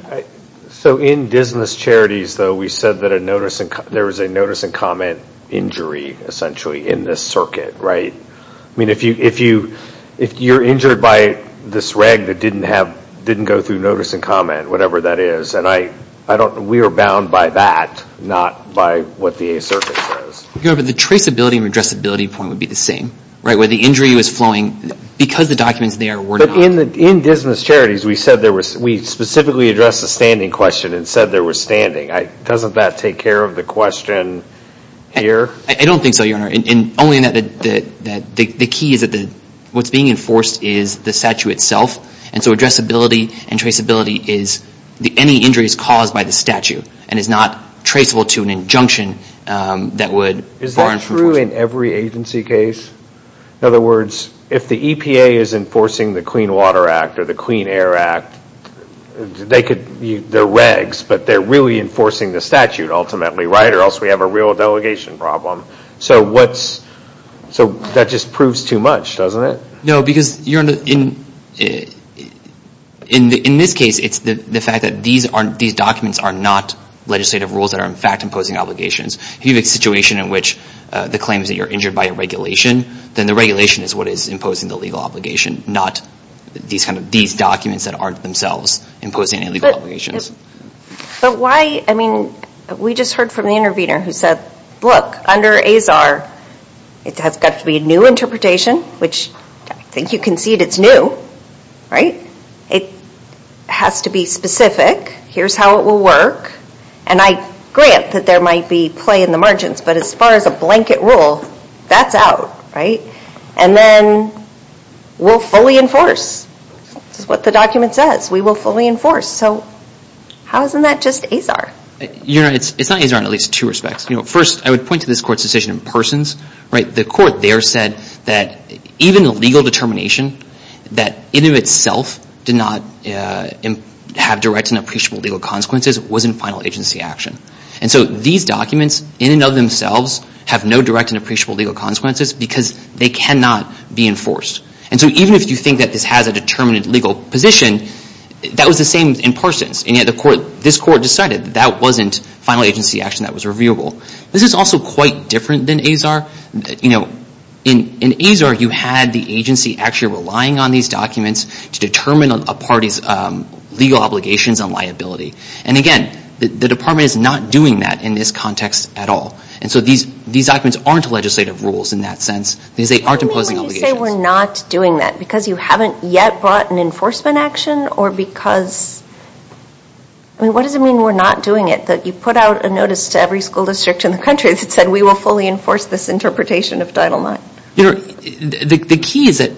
So in Dismas Charities, though, we said that there was a notice and comment injury, essentially, in this circuit, right? I mean, if you're injured by this rag that didn't go through notice and comment, whatever that is, and I don't, we are bound by that, not by what the circuit says. The traceability and redressability point would be the same, right? Where the injury was flowing because the documents there were not. But in Dismas Charities, we said there was, we specifically addressed the standing question and said there was standing. Doesn't that take care of the question here? I don't think so, Your Honor. Only in that the key is that what's being enforced is the statute itself. And so addressability and traceability is any injuries caused by the statute and is not traceable to an injunction that would warrant enforcement. Is that true in every agency case? In other words, if the EPA is enforcing the Clean Water Act or the Clean Air Act, they could, they're regs, but they're really enforcing the statute ultimately, right? Or else we have a real delegation problem. So what's, so that just proves too much, doesn't it? No, because, Your Honor, in this case, it's the fact that these documents are not legislative rules that are, in fact, imposing obligations. If you have a situation in which the claim is that you're injured by a regulation, then the regulation is what is imposing the legal obligation, not these documents that aren't themselves imposing any legal obligations. But why, I mean, we just heard from the intervener who said, look, under AZAR, it has got to be a new interpretation, which I think you concede it's new, right? It has to be specific. Here's how it will work. And I grant that there might be play in the margins, but as far as a blanket rule, that's out, right? And then we'll fully enforce. This is what the document says. We will fully enforce. So how isn't that just AZAR? Your Honor, it's not AZAR in at least two respects. First, I would point to this Court's decision in Persons. The Court there said that even a legal determination that in and of itself did not have direct and appreciable legal consequences was in final agency action. And so these documents, in and of themselves, have no direct and appreciable legal consequences because they cannot be enforced. And so even if you think that this has a determined legal position, that was the same in Persons. And yet this Court decided that that wasn't final agency action that was reviewable. This is also quite different than AZAR. In AZAR, you had the agency actually relying on these documents to determine a party's legal obligations and liability. And again, the Department is not doing that in this context at all. And so these documents aren't legislative rules in that sense because they aren't imposing obligations. Why do you say we're not doing that? Because you haven't yet brought an enforcement action or because what does it mean we're not doing it? That you put out a notice to every school district in the country that said we will fully enforce this interpretation of Title IX? Your Honor, the key is that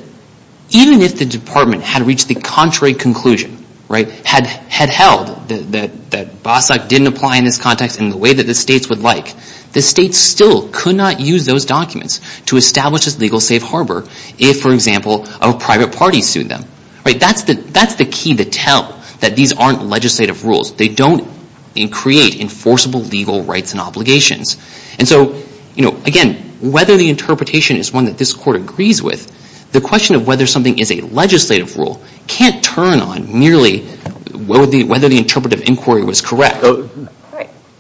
even if the Department had reached the contrary conclusion, had held that BASA didn't apply in this context in the way that the States would like, the States still could not use those documents to establish this legal safe harbor if, for example, a private party sued them. That's the key to tell that these aren't legislative rules. They don't create enforceable legal rights and obligations. And so, again, whether the interpretation is one that this Court agrees with, the question of whether something is a legislative rule can't turn on merely whether the interpretive inquiry was correct.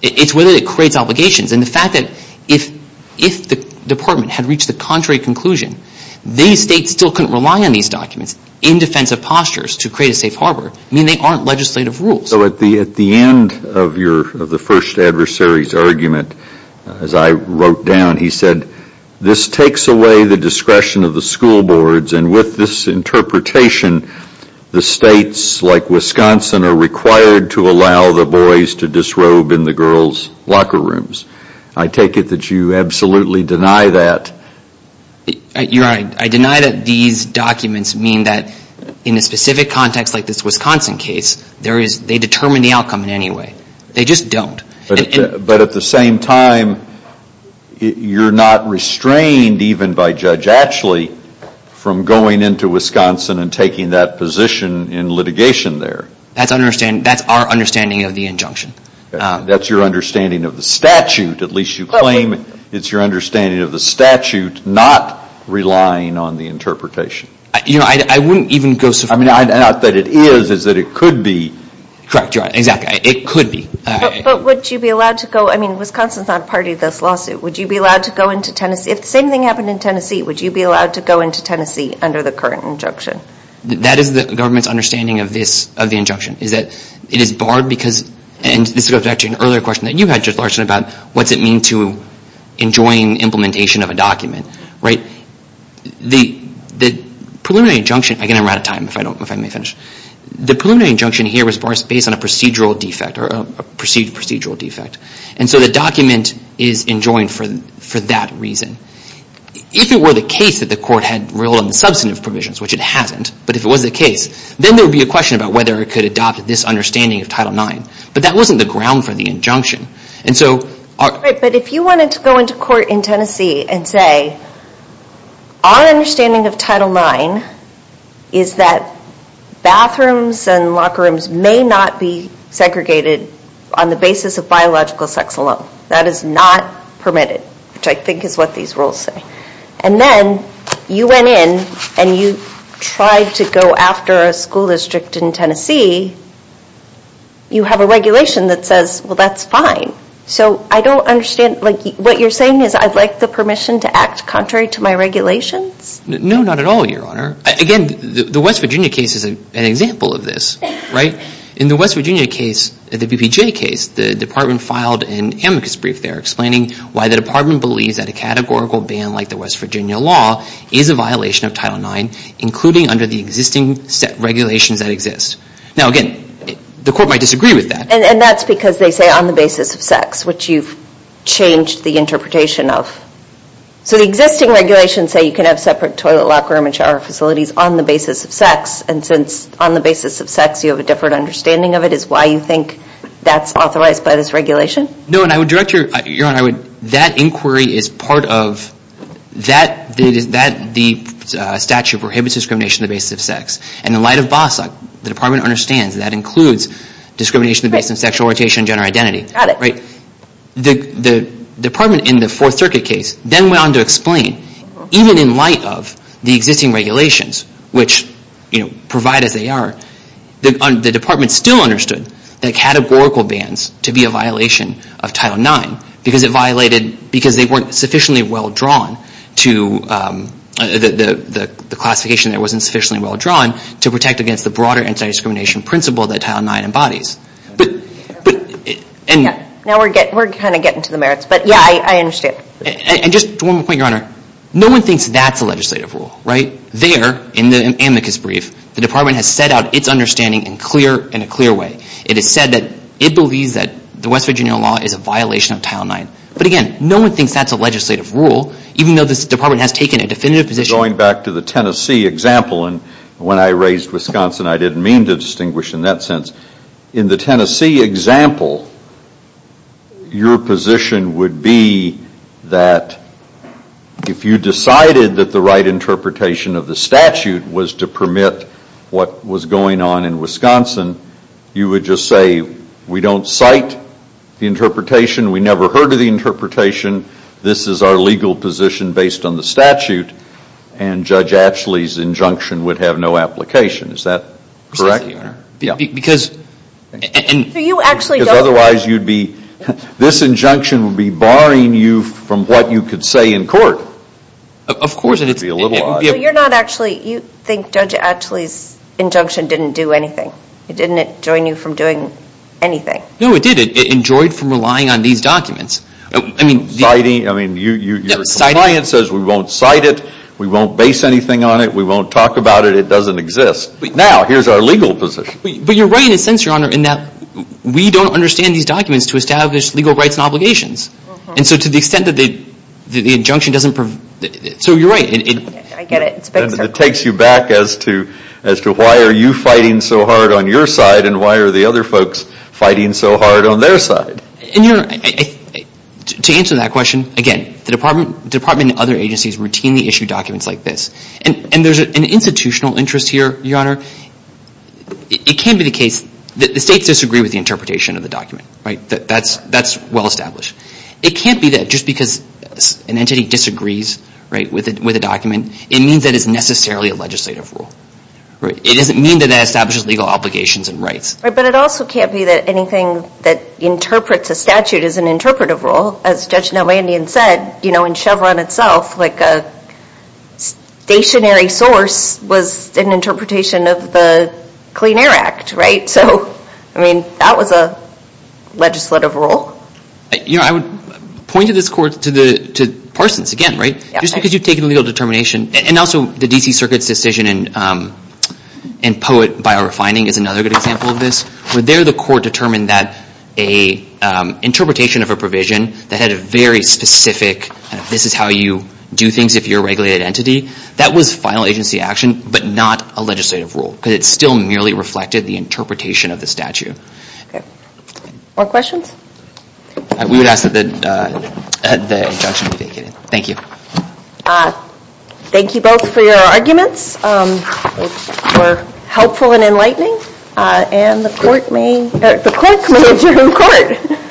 It's whether it creates obligations. And the fact that if the Department had reached the contrary conclusion, these States still couldn't rely on these documents in defensive postures to create a safe harbor, they aren't legislative rules. So at the end of the first adversary's argument, as I wrote down, he said this takes away the discretion of the school boards, and with this interpretation, the States, like Wisconsin, are required to allow the boys to disrobe in the girls' locker rooms. I take it that you absolutely deny that. Your Honor, I deny that these documents mean that in a specific context like this Wisconsin case, they determine the outcome in any way. They just don't. But at the same time, you're not restrained even by Judge Atchley from going into Wisconsin and taking that position in litigation there. That's our understanding of the injunction. That's your understanding of the statute. At least you claim it's your understanding of the statute, not relying on the interpretation. You know, I wouldn't even go so far. I mean, not that it is, is that it could be. Correct, Your Honor. Exactly. It could be. But would you be allowed to go, I mean, Wisconsin's not a party to this lawsuit. Would you be allowed to go into Tennessee? If the same thing happened in Tennessee, would you be allowed to go into Tennessee under the current injunction? That is the government's understanding of this, of the injunction, is that it is barred because, and this goes back to an earlier question that you had, Judge Larson, about what's it mean to enjoin implementation of a document, right? The preliminary injunction, again, I'm out of time, if I don't, if I may finish. The preliminary injunction here was based on a procedural defect, or a perceived procedural defect. And so the document is enjoined for that reason. If it were the case that the court had ruled on the substantive provisions, which it hasn't, but if it was the case, then there would be a question about whether it could adopt this understanding of Title IX. But that wasn't the ground for the injunction. And so... But if you wanted to go into court in Tennessee and say, our understanding of Title IX is that bathrooms and bathrooms are segregated on the basis of biological sex alone. That is not permitted, which I think is what these rules say. And then you went in and you tried to go after a school district in Tennessee, you have a regulation that says, well, that's fine. So I don't understand, like, what you're saying is I'd like the permission to act contrary to my regulations? No, not at all, Your Honor. Again, the West Virginia case is an example of this, right? In the West Virginia case, the BPJ case, the Department filed an amicus brief there explaining why the Department believes that a categorical ban like the West Virginia law is a violation of Title IX, including under the existing regulations that exist. Now, again, the court might disagree with that. And that's because they say on the basis of sex, which you've changed the interpretation of. So the existing regulations say you can have separate toilet, locker room, and shower facilities on the basis of sex. And since on the basis of sex you have a different understanding of it, is why you think that's authorized by this regulation? No, and I would direct Your Honor, that inquiry is part of that statute prohibits discrimination on the basis of sex. And in light of BASA, the Department understands that includes discrimination on the basis of sexual orientation and gender identity. Got it. The Department in the Fourth Circuit case then went on to explain, even in light of the existing regulations, which provide as they are, the Department still understood that categorical bans to be a violation of Title IX because it violated, because they weren't sufficiently well-drawn to the classification that wasn't sufficiently well-drawn to protect against the broader anti-discrimination principle that Title IX embodies. Now we're kind of getting to the merits. But yeah, I understand. And just one more point, Your Honor. No one thinks that's a legislative rule, right? There, in the amicus brief, the Department has set out its understanding in a clear way. It has said that it believes that the West Virginia law is a violation of Title IX. But again, no one thinks that's a legislative rule, even though this Department has taken a definitive position. Going back to the Tennessee example, and when I raised Wisconsin I didn't mean to distinguish in that sense. In the Tennessee example, your position would be that if you decided that the right interpretation of the statute was to permit what was going on in Wisconsin, you would just say, we don't cite the interpretation. We never heard of the interpretation. This is our legal position based on the statute. And Judge Atschle's injunction would have no application. Is that correct? Because otherwise you'd be this injunction would be barring you from what you could say in court. Of course. It would be a little odd. But you're not actually you think Judge Atschle's injunction didn't do anything. It didn't enjoin you from doing anything. No, it did. It enjoined from relying on these documents. Citing, I mean, your compliance says we won't cite it. We won't base anything on it. We won't talk about it. It doesn't exist. Now, here's our legal position. But you're right in a sense, Your Honor, in that we don't understand these documents to establish legal rights and obligations. And so to the extent that the injunction doesn't, so you're right. I get it. It takes you back as to why are you fighting so hard on your side and why are the other folks fighting so hard on their side? To answer that question, again, the Department and other agencies routinely issue documents like this. And there's an institutional interest here, Your Honor. It can be the case that the states disagree with the interpretation of the document. That's well established. It can't be that just because an entity disagrees with a document, it means that it's necessarily a legislative rule. It doesn't mean that it establishes legal obligations and rights. But it also can't be that anything that interprets a statute is an interpretive rule. As Judge Nowandian said, in Chevron itself, like a stationary source was an interpretation of the Clean Air Act, right? So, I mean, that was a legislative rule. You know, I would point to this court, to Parsons again, right? Just because you've taken legal determination. And also the D.C. Circuit's decision in Poet by a Refining is another good example of this. Where there the court determined that an interpretation of a provision that had a very specific, this is how you do things if you're a regulated entity, that was final agency action, but not a legislative rule. Because it still merely reflected the interpretation of the statute. More questions? We would ask that the injunction be vacated. Thank you. Thank you both for your arguments. They were helpful and enlightening. And the court may adjourn court.